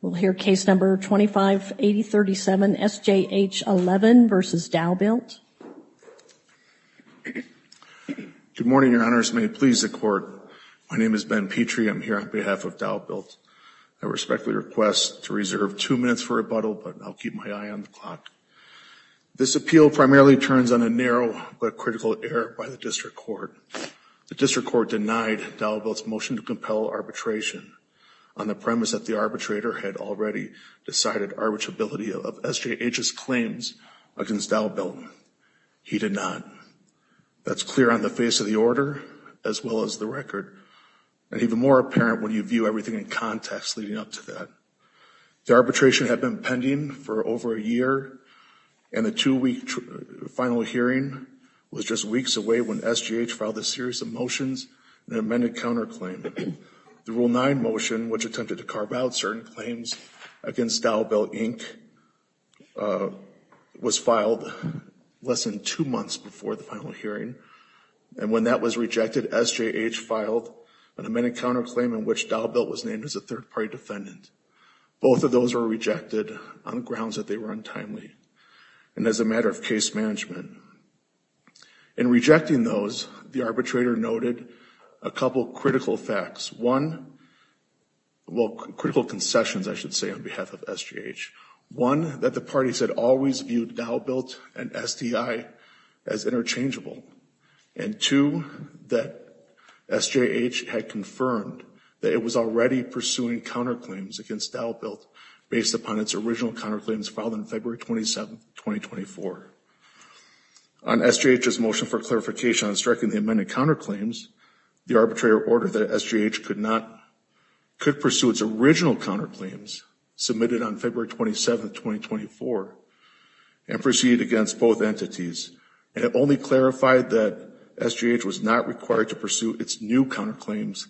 Good morning, your honors. May it please the court. My name is Ben Petrie. I'm here on behalf of Dowbuilt. I respectfully request to reserve two minutes for rebuttal, but I'll keep my eye on the clock. This appeal primarily turns on a narrow but critical error by the district court. The district court denied Dowbuilt's motion to compel arbitration on the premise that the arbitrator had already decided arbitrability of SJH's claims against Dowbuilt. He did not. That's clear on the face of the order as well as the record, and even more apparent when you view everything in context leading up to that. The arbitration had been pending for over a year, and the two-week final hearing was just weeks away when SJH filed a series of motions and an amended counterclaim. The Rule 9 motion, which attempted to carve out certain claims against Dowbuilt Inc., was filed less than two months before the final hearing, and when that was rejected, SJH filed an amended counterclaim in which Dowbuilt was named as a third-party defendant. Both of those were rejected on grounds that they were untimely and as a matter of case management. In rejecting those, the arbitrator noted a couple critical facts. One, well, critical concessions, I should say, on behalf of SJH. One, that the parties had always viewed Dowbuilt and SDI as interchangeable. And two, that SJH had confirmed that it was already pursuing counterclaims against Dowbuilt based upon its original counterclaims filed on February 27, 2024. On SJH's motion for clarification on striking the amended counterclaims, the arbitrator ordered that SJH could pursue its original counterclaims submitted on February 27, 2024, and proceed against both entities, and it only clarified that SJH was not required to pursue its new counterclaims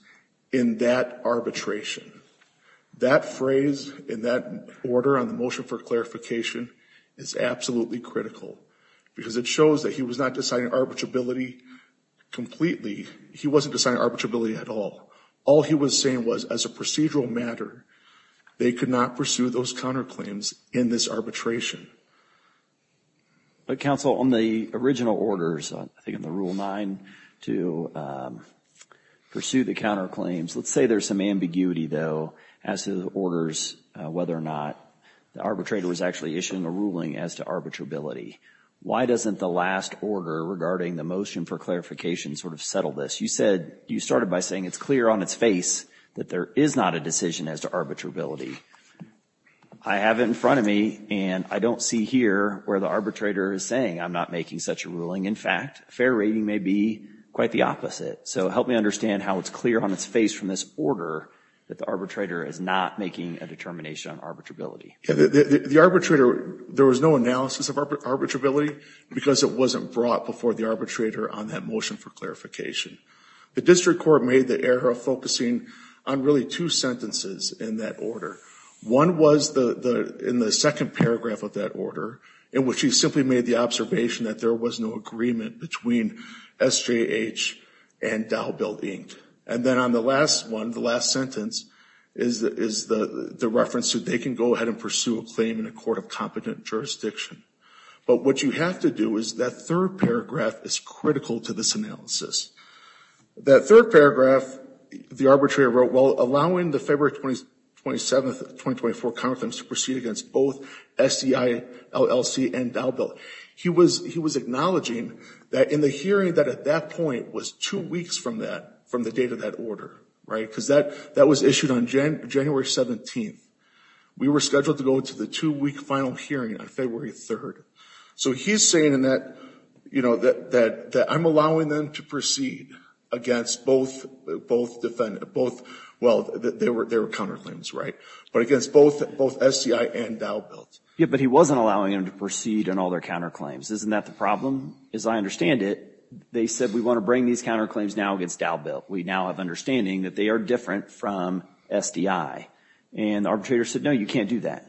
in that arbitration. That phrase in that order on the motion for clarification is absolutely critical, because it shows that he was not deciding arbitrability completely. He wasn't deciding arbitrability at all. All he was saying was, as a procedural matter, they could not pursue those counterclaims in this arbitration. But, counsel, on the original orders, I think in the Rule 9, to pursue the counterclaims, let's say there's some ambiguity, though, as to the orders whether or not the arbitrator was actually issuing a ruling as to arbitrability. Why doesn't the last order regarding the motion for clarification sort of settle this? You said, you started by saying it's clear on its face that there is not a decision as to arbitrability. I have it in front of me, and I don't see here where the arbitrator is saying I'm not making such a ruling. In fact, fair rating may be quite the opposite. So help me understand how it's clear on its face from this order that the arbitrator is not making a determination on arbitrability. The arbitrator, there was no analysis of arbitrability because it wasn't brought before the arbitrator on that motion for clarification. The district court made the error of focusing on really two sentences in that order. One was in the second paragraph of that order, in which he simply made the observation that there was no agreement between SJH and Dow Bill, Inc. And then on the last one, the last sentence, is the reference to they can go ahead and pursue a claim in a court of competent jurisdiction. But what you have to do is that third paragraph is critical to this analysis. That third paragraph, the arbitrator wrote, well, allowing the February 27, 2024 Congress to proceed against both SDI LLC and Dow Bill. He was acknowledging that in the hearing that at that point was two weeks from that, from the date of that order, right? Because that was issued on January 17th. We were scheduled to go to the two-week final hearing on February 3rd. So he's saying in that, you know, that I'm allowing them to proceed against both, well, they were counterclaims, right? But against both SDI and Dow Bill. Yeah, but he wasn't allowing them to proceed on all their counterclaims. Isn't that the problem? As I understand it, they said we want to bring these counterclaims now against Dow Bill. We now have understanding that they are different from SDI. And the arbitrator said, no, you can't do that.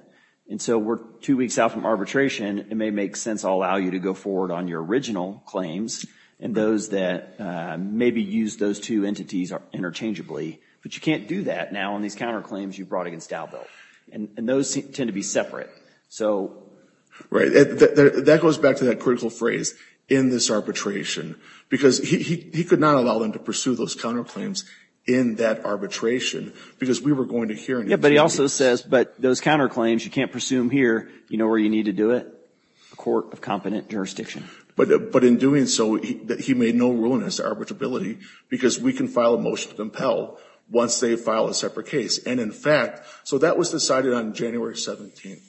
And so we're two weeks out from arbitration. It may make sense I'll allow you to go forward on your original claims and those that maybe use those two entities interchangeably. But you can't do that now on these counterclaims you brought against Dow Bill. And those tend to be separate. So. Right. That goes back to that critical phrase, in this arbitration. Because he could not allow them to pursue those counterclaims in that arbitration because we were going to hear. Yeah, but he also says, but those counterclaims, you can't pursue them here. You know where you need to do it? A court of competent jurisdiction. But in doing so, he made no rule in his arbitrability because we can file a motion to compel once they file a separate case. And in fact, so that was decided on January 17th.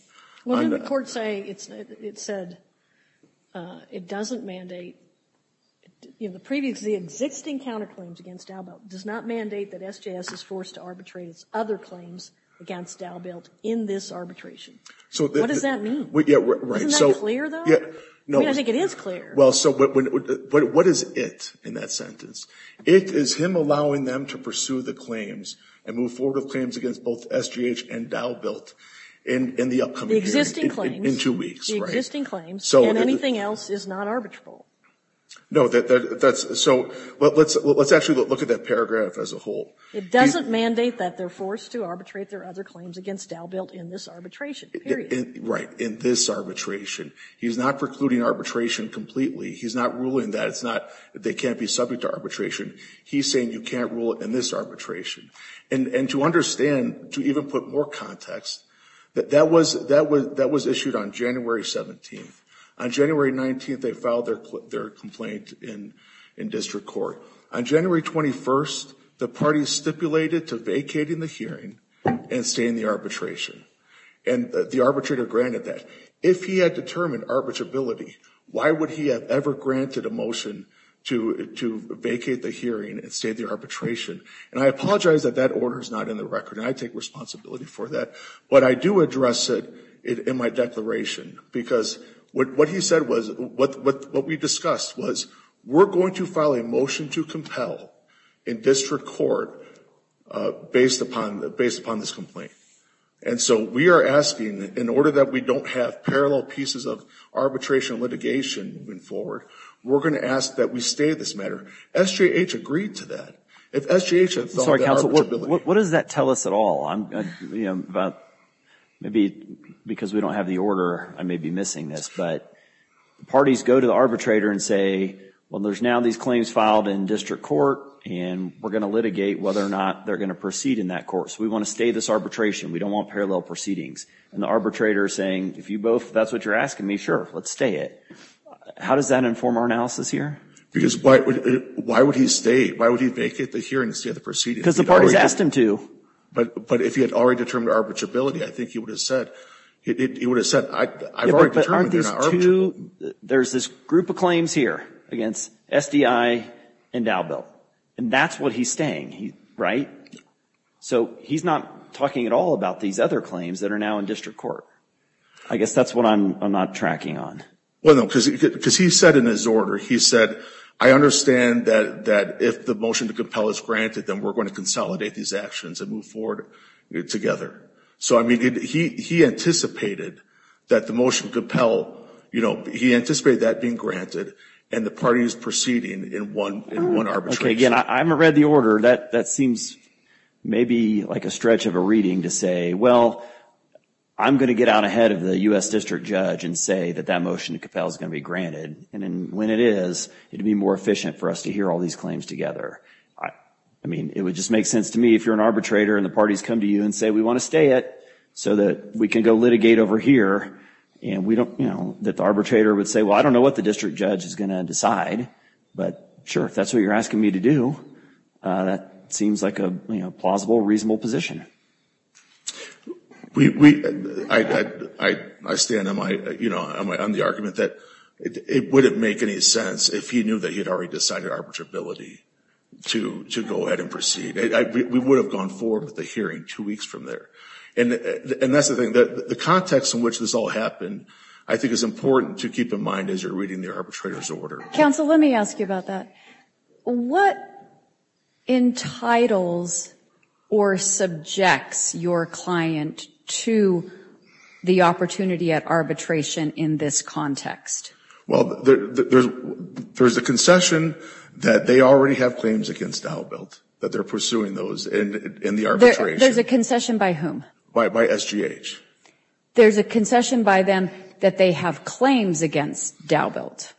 Well, didn't the court say, it said, it doesn't mandate. You know, the previous, the existing counterclaims against Dow Bill does not mandate that SJS is forced to arbitrate its other claims against Dow Bill in this arbitration. So what does that mean? Yeah, right. Isn't that clear though? Yeah. I mean, I think it is clear. Well, so what is it in that sentence? It is him allowing them to pursue the claims and move forward with claims against both SJS and Dow Bill in the upcoming years. The existing claims. In two weeks, right? The existing claims, and anything else is not arbitrable. No, that's so, let's actually look at that paragraph as a whole. It doesn't mandate that they're forced to arbitrate their other claims against Dow Bill in this arbitration, period. Right, in this arbitration. He's not precluding arbitration completely. He's not ruling that they can't be subject to arbitration. He's saying you can't rule it in this arbitration. And to understand, to even put more context, that that was issued on January 17th. On January 19th, they filed their complaint in district court. On January 21st, the party stipulated to vacate in the hearing and stay in the arbitration. And the arbitrator granted that. If he had determined arbitrability, why would he have ever granted a motion to vacate the hearing and stay in the arbitration? And I apologize that that order is not in the record, and I take responsibility for that. But I do address it in my declaration. Because what he said was, what we discussed was, we're going to file a motion to compel in district court based upon this complaint. And so we are asking, in order that we don't have parallel pieces of arbitration litigation moving forward, we're going to ask that we stay this matter. SJH agreed to that. If SJH had filed that arbitrability. I'm sorry, counsel. What does that tell us at all? Maybe because we don't have the order, I may be missing this. But parties go to the arbitrator and say, well, there's now these claims filed in district court. And we're going to litigate whether or not they're going to proceed in that court. So we want to stay this arbitration. We don't want parallel proceedings. And the arbitrator is saying, if that's what you're asking me, sure, let's stay it. How does that inform our analysis here? Because why would he stay? Why would he vacate the hearing and stay in the proceedings? Because the parties asked him to. But if he had already determined arbitrability, I think he would have said, I've already determined they're not arbitrable. There's this group of claims here against SDI and Dalbell. And that's what he's staying, right? So he's not talking at all about these other claims that are now in district court. I guess that's what I'm not tracking on. Well, no, because he said in his order, he said, I understand that if the motion to compel is granted, then we're going to consolidate these actions and move forward together. So, I mean, he anticipated that the motion to compel, you know, he anticipated that being granted. And the parties proceeding in one arbitration. Okay, again, I haven't read the order. That seems maybe like a stretch of a reading to say, well, I'm going to get out ahead of the U.S. district judge and say that that motion to compel is going to be granted. And when it is, it would be more efficient for us to hear all these claims together. I mean, it would just make sense to me if you're an arbitrator and the parties come to you and say, we want to stay it so that we can go litigate over here. And we don't, you know, that the arbitrator would say, well, I don't know what the district judge is going to decide. But sure, if that's what you're asking me to do, that seems like a plausible, reasonable position. We, I stand on my, you know, on the argument that it wouldn't make any sense if he knew that he had already decided arbitrability to go ahead and proceed. We would have gone forward with the hearing two weeks from there. And that's the thing, the context in which this all happened, I think is important to keep in mind as you're reading the arbitrator's order. Counsel, let me ask you about that. What entitles or subjects your client to the opportunity at arbitration in this context? Well, there's a concession that they already have claims against Dow Belt, that they're pursuing those in the arbitration. There's a concession by whom? By SGH. There's a concession by them that they have claims against Dow Belt.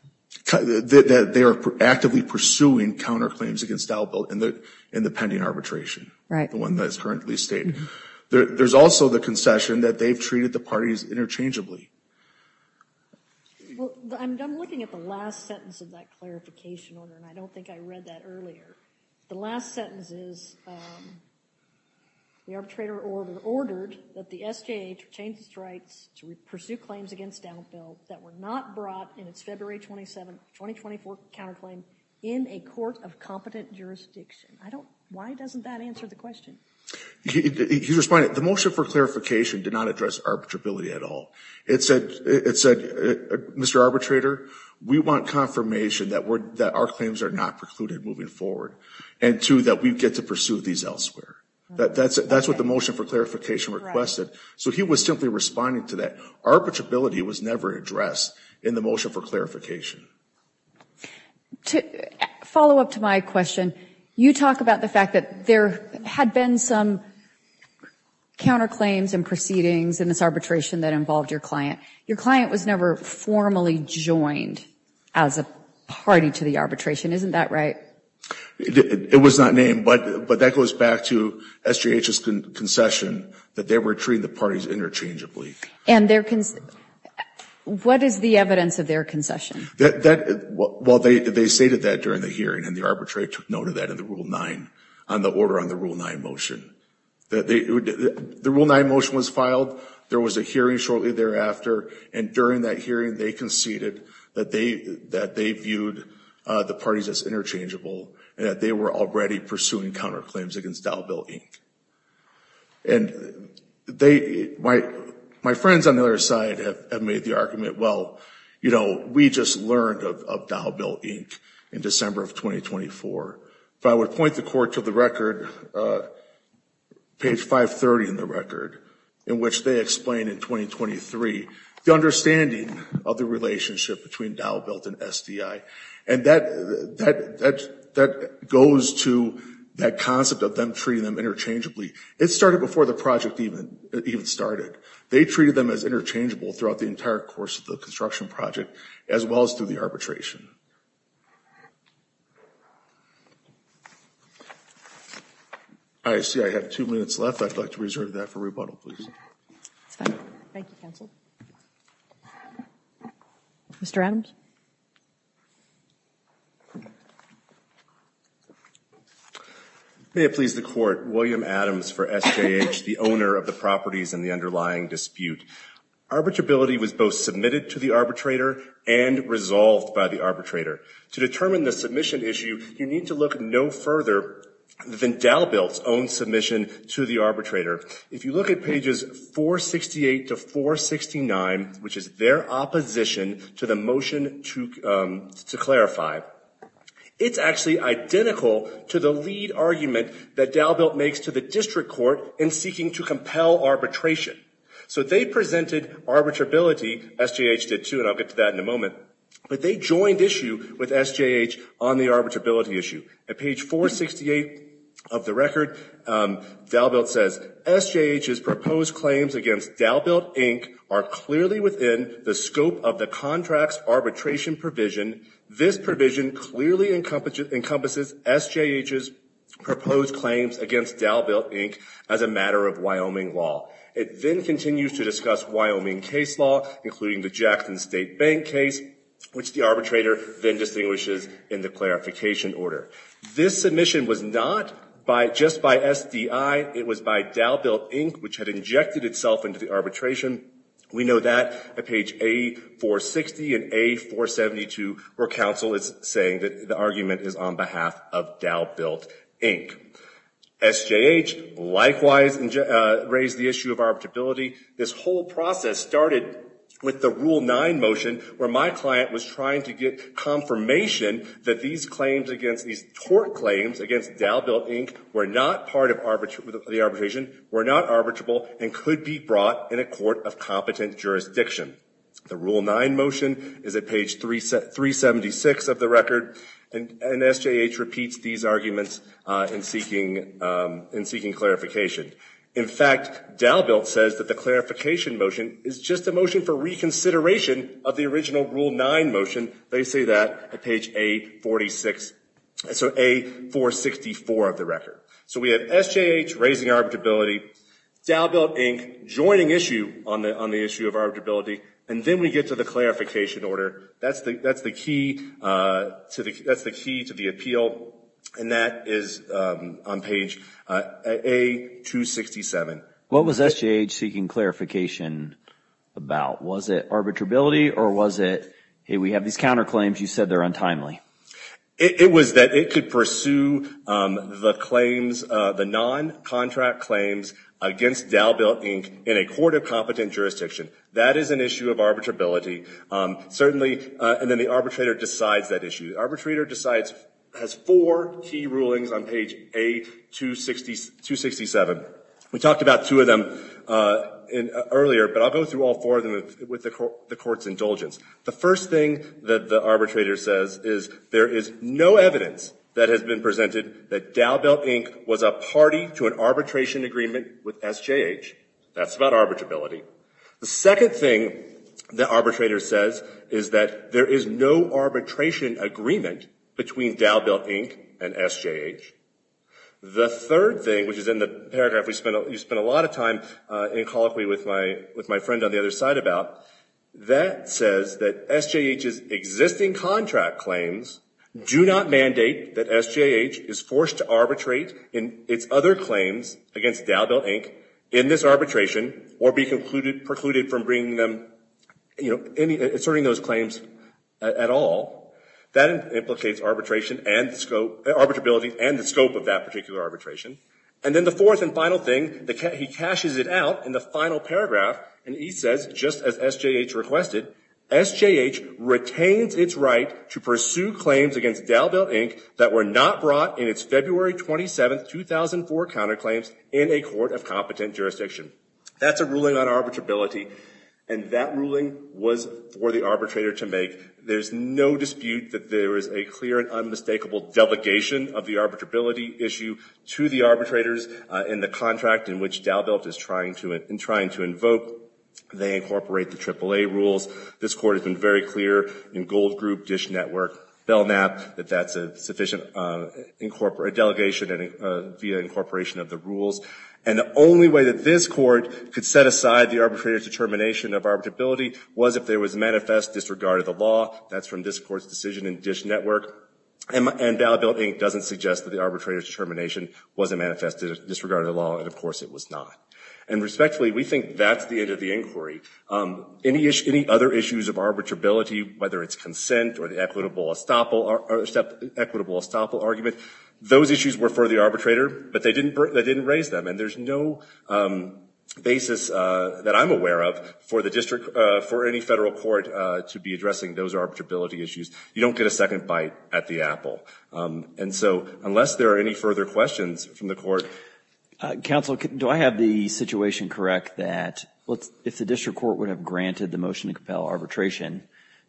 That they are actively pursuing counterclaims against Dow Belt in the pending arbitration. Right. The one that is currently staying. There's also the concession that they've treated the parties interchangeably. Well, I'm looking at the last sentence of that clarification order, and I don't think I read that earlier. The last sentence is the arbitrator ordered that the SGH change its rights to pursue claims against Dow Belt that were not brought in its February 27, 2024 counterclaim in a court of competent jurisdiction. Why doesn't that answer the question? He's responding. The motion for clarification did not address arbitrability at all. It said, Mr. Arbitrator, we want confirmation that our claims are not precluded moving forward, and two, that we get to pursue these elsewhere. That's what the motion for clarification requested. So he was simply responding to that. Arbitrability was never addressed in the motion for clarification. To follow up to my question, you talk about the fact that there had been some counterclaims and proceedings in this arbitration that involved your client. Your client was never formally joined as a party to the arbitration. Isn't that right? It was not named, but that goes back to SGH's concession that they were treating the parties interchangeably. And what is the evidence of their concession? Well, they stated that during the hearing, and the arbitrator noted that in the Rule 9, on the order on the Rule 9 motion. The Rule 9 motion was filed. There was a hearing shortly thereafter, and during that hearing, they conceded that they viewed the parties as interchangeable, and that they were already pursuing counterclaims against Dow Belt, Inc. And they, my friends on the other side have made the argument, well, you know, we just learned of Dow Belt, Inc. in December of 2024. But I would point the court to the record, page 530 in the record, in which they explain in 2023 the understanding of the relationship between Dow Belt and SDI. And that goes to that concept of them treating them interchangeably. It started before the project even started. They treated them as interchangeable throughout the entire course of the construction project, as well as through the arbitration. I see I have two minutes left. I'd like to reserve that for rebuttal, please. It's fine. Thank you, Counsel. Mr. Adams? May it please the Court, William Adams for SJH, the owner of the properties in the underlying dispute. Arbitrability was both submitted to the arbitrator and resolved by the arbitrator. To determine the submission issue, you need to look no further than Dow Belt's own submission to the arbitrator. If you look at pages 468 to 469, which is their opposition to the motion to clarify, it's actually identical to the lead argument that Dow Belt makes to the district court in seeking to compel arbitration. So they presented arbitrability, SJH did too, and I'll get to that in a moment, but they joined issue with SJH on the arbitrability issue. At page 468 of the record, Dow Belt says, SJH's proposed claims against Dow Belt, Inc. are clearly within the scope of the contract's arbitration provision. This provision clearly encompasses SJH's proposed claims against Dow Belt, Inc. as a matter of Wyoming law. It then continues to discuss Wyoming case law, including the Jackson State Bank case, which the arbitrator then distinguishes in the clarification order. This submission was not just by SDI, it was by Dow Belt, Inc., which had injected itself into the arbitration. We know that at page A460 and A472, where counsel is saying that the argument is on behalf of Dow Belt, Inc. SJH likewise raised the issue of arbitrability. This whole process started with the Rule 9 motion, where my client was trying to get confirmation that these claims against these tort claims against Dow Belt, Inc. were not part of the arbitration, were not arbitrable, and could be brought in a court of competent jurisdiction. The Rule 9 motion is at page 376 of the record, and SJH repeats these arguments in seeking clarification. In fact, Dow Belt says that the clarification motion is just a motion for reconsideration of the original Rule 9 motion. They say that at page A46, so A464 of the record. So we have SJH raising arbitrability, Dow Belt, Inc. joining issue on the issue of arbitrability, and then we get to the clarification order. That's the key to the appeal, and that is on page A267. What was SJH seeking clarification about? Was it arbitrability, or was it, hey, we have these counterclaims. You said they're untimely. It was that it could pursue the claims, the non-contract claims against Dow Belt, Inc. in a court of competent jurisdiction. That is an issue of arbitrability. Certainly, and then the arbitrator decides that issue. The arbitrator decides, has four key rulings on page A267. We talked about two of them earlier, but I'll go through all four of them with the Court's indulgence. The first thing that the arbitrator says is there is no evidence that has been presented that Dow Belt, Inc. was a party to an arbitration agreement with SJH. That's about arbitrability. The second thing the arbitrator says is that there is no arbitration agreement between Dow Belt, Inc. and SJH. The third thing, which is in the paragraph we spent a lot of time in colloquy with my friend on the other side about, that says that SJH's existing contract claims do not mandate that SJH is forced to arbitrate in its other claims against Dow Belt, Inc. in this arbitration or be precluded from bringing them, you know, asserting those claims at all. That implicates arbitration and scope, arbitrability and the scope of that particular arbitration. And then the fourth and final thing, he caches it out in the final paragraph, and he says, just as SJH requested, SJH retains its right to pursue claims against Dow Belt, Inc. that were not brought in its February 27, 2004 counterclaims in a court of competent jurisdiction. That's a ruling on arbitrability, and that ruling was for the arbitrator to make. There's no dispute that there is a clear and unmistakable delegation of the arbitrability issue to the arbitrators in the contract in which Dow Belt is trying to invoke. They incorporate the AAA rules. This Court has been very clear in Gold Group, Dish Network, Belknap, that that's sufficient delegation via incorporation of the rules. And the only way that this Court could set aside the arbitrator's determination of arbitrability was if there was a manifest disregard of the law. That's from this Court's decision in Dish Network. And Dow Belt, Inc. doesn't suggest that the arbitrator's determination was a manifest disregard of the law, and of course it was not. And respectfully, we think that's the end of the inquiry. Any other issues of arbitrability, whether it's consent or the equitable estoppel argument, those issues were for the arbitrator, but they didn't raise them. And there's no basis that I'm aware of for the district, for any federal court to be addressing those arbitrability issues. You don't get a second bite at the apple. And so unless there are any further questions from the Court. Counsel, do I have the situation correct that if the district court would have granted the motion to compel arbitration,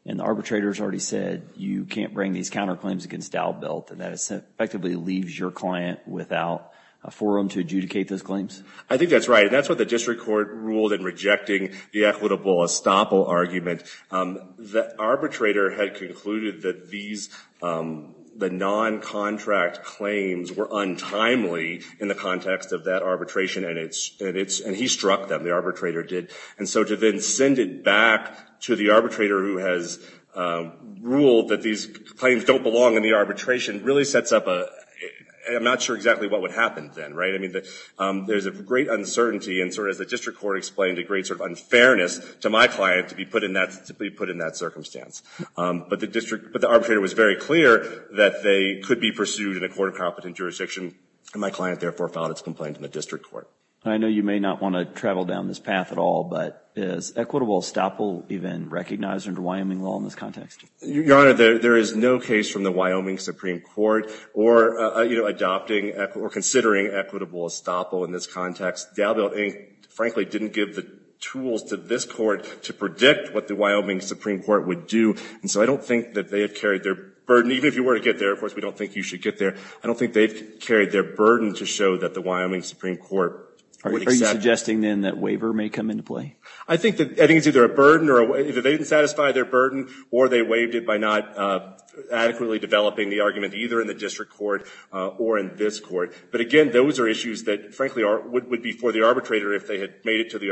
and the arbitrator has already said, you can't bring these counterclaims against Dow Belt, that it effectively leaves your client without a forum to adjudicate those claims? I think that's right. And that's what the district court ruled in rejecting the equitable estoppel argument. The arbitrator had concluded that these, the non-contract claims were untimely in the context of that arbitration, and he struck them, the arbitrator did. And so to then send it back to the arbitrator who has ruled that these claims don't belong in the arbitration really sets up a, I'm not sure exactly what would happen then, right? I mean, there's a great uncertainty, and sort of as the district court explained, a great sort of unfairness to my client to be put in that circumstance. But the district, but the arbitrator was very clear that they could be pursued in a court of competent jurisdiction, and my client therefore filed its complaint in the district court. I know you may not want to travel down this path at all, but is equitable estoppel even recognized under Wyoming law in this context? Your Honor, there is no case from the Wyoming Supreme Court or, you know, adopting or considering equitable estoppel in this context. Dow Belt, frankly, didn't give the tools to this court to predict what the Wyoming Supreme Court would do. And so I don't think that they have carried their burden. Even if you were to get there, of course, we don't think you should get there. I don't think they've carried their burden to show that the Wyoming Supreme Court would accept. Are you suggesting, then, that waiver may come into play? I think it's either a burden, or either they didn't satisfy their burden, or they waived it by not adequately developing the argument, either in the district court or in this court. But, again, those are issues that, frankly, would be for the arbitrator if they had made it to the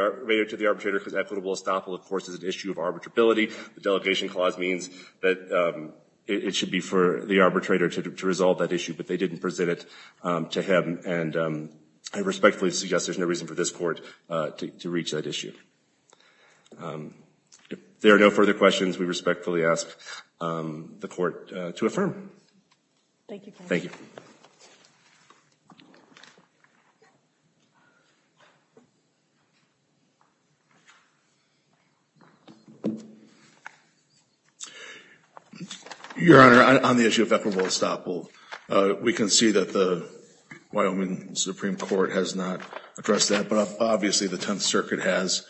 arbitrator, because equitable estoppel, of course, is an issue of arbitrability. The delegation clause means that it should be for the arbitrator to resolve that issue. I respectfully suggest there's no reason for this court to reach that issue. If there are no further questions, we respectfully ask the court to affirm. Thank you, counsel. Your Honor, on the issue of equitable estoppel, we can see that the Wyoming Supreme Court has not addressed that. But, obviously, the Tenth Circuit has.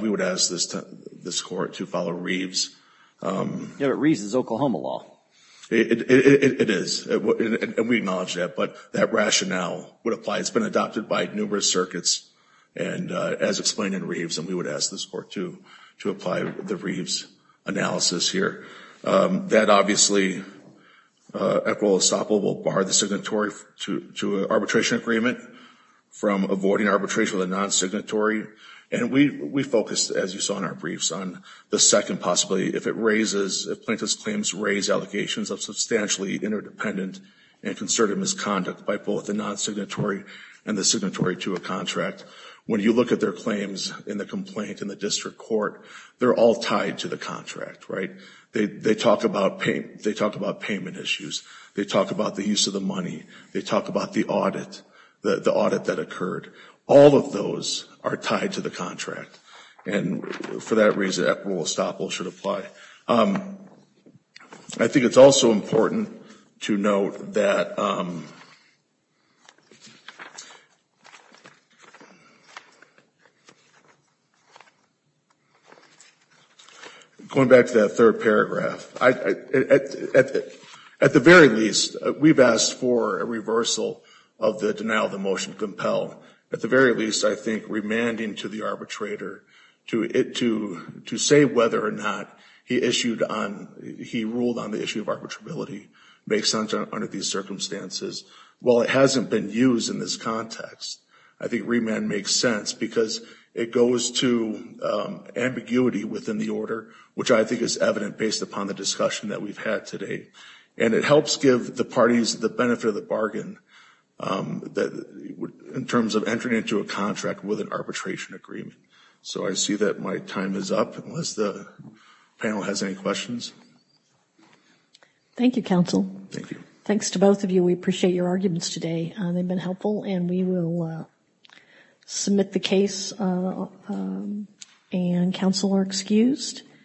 We would ask this court to follow Reeves. Yeah, but Reeves is Oklahoma law. It is. And we acknowledge that. But that rationale would apply. It's been adopted by numerous circuits, as explained in Reeves. And we would ask this court to apply the Reeves analysis here. That, obviously, equitable estoppel will bar the signatory to an arbitration agreement from avoiding arbitration with a non-signatory. And we focus, as you saw in our briefs, on the second possibility. If plaintiffs' claims raise allegations of substantially interdependent and concerted misconduct by both the non-signatory and the signatory to a contract, when you look at their claims in the complaint in the district court, they're all tied to the contract, right? They talk about payment issues. They talk about the use of the money. They talk about the audit, the audit that occurred. All of those are tied to the contract. And, for that reason, equitable estoppel should apply. I think it's also important to note that, going back to that third paragraph, at the very least, we've asked for a reversal of the denial of the motion compelled. At the very least, I think remanding to the arbitrator to say whether or not he issued on, he ruled on the issue of arbitrability based on these circumstances. While it hasn't been used in this context, I think remand makes sense because it goes to ambiguity within the order, which I think is evident based upon the discussion that we've had today. And it helps give the parties the benefit of the bargain in terms of entering into a contract with an arbitration agreement. So I see that my time is up, unless the panel has any questions. Thank you, counsel. Thank you. Thanks to both of you. We appreciate your arguments today. They've been helpful. And we will submit the case, and counsel are excused.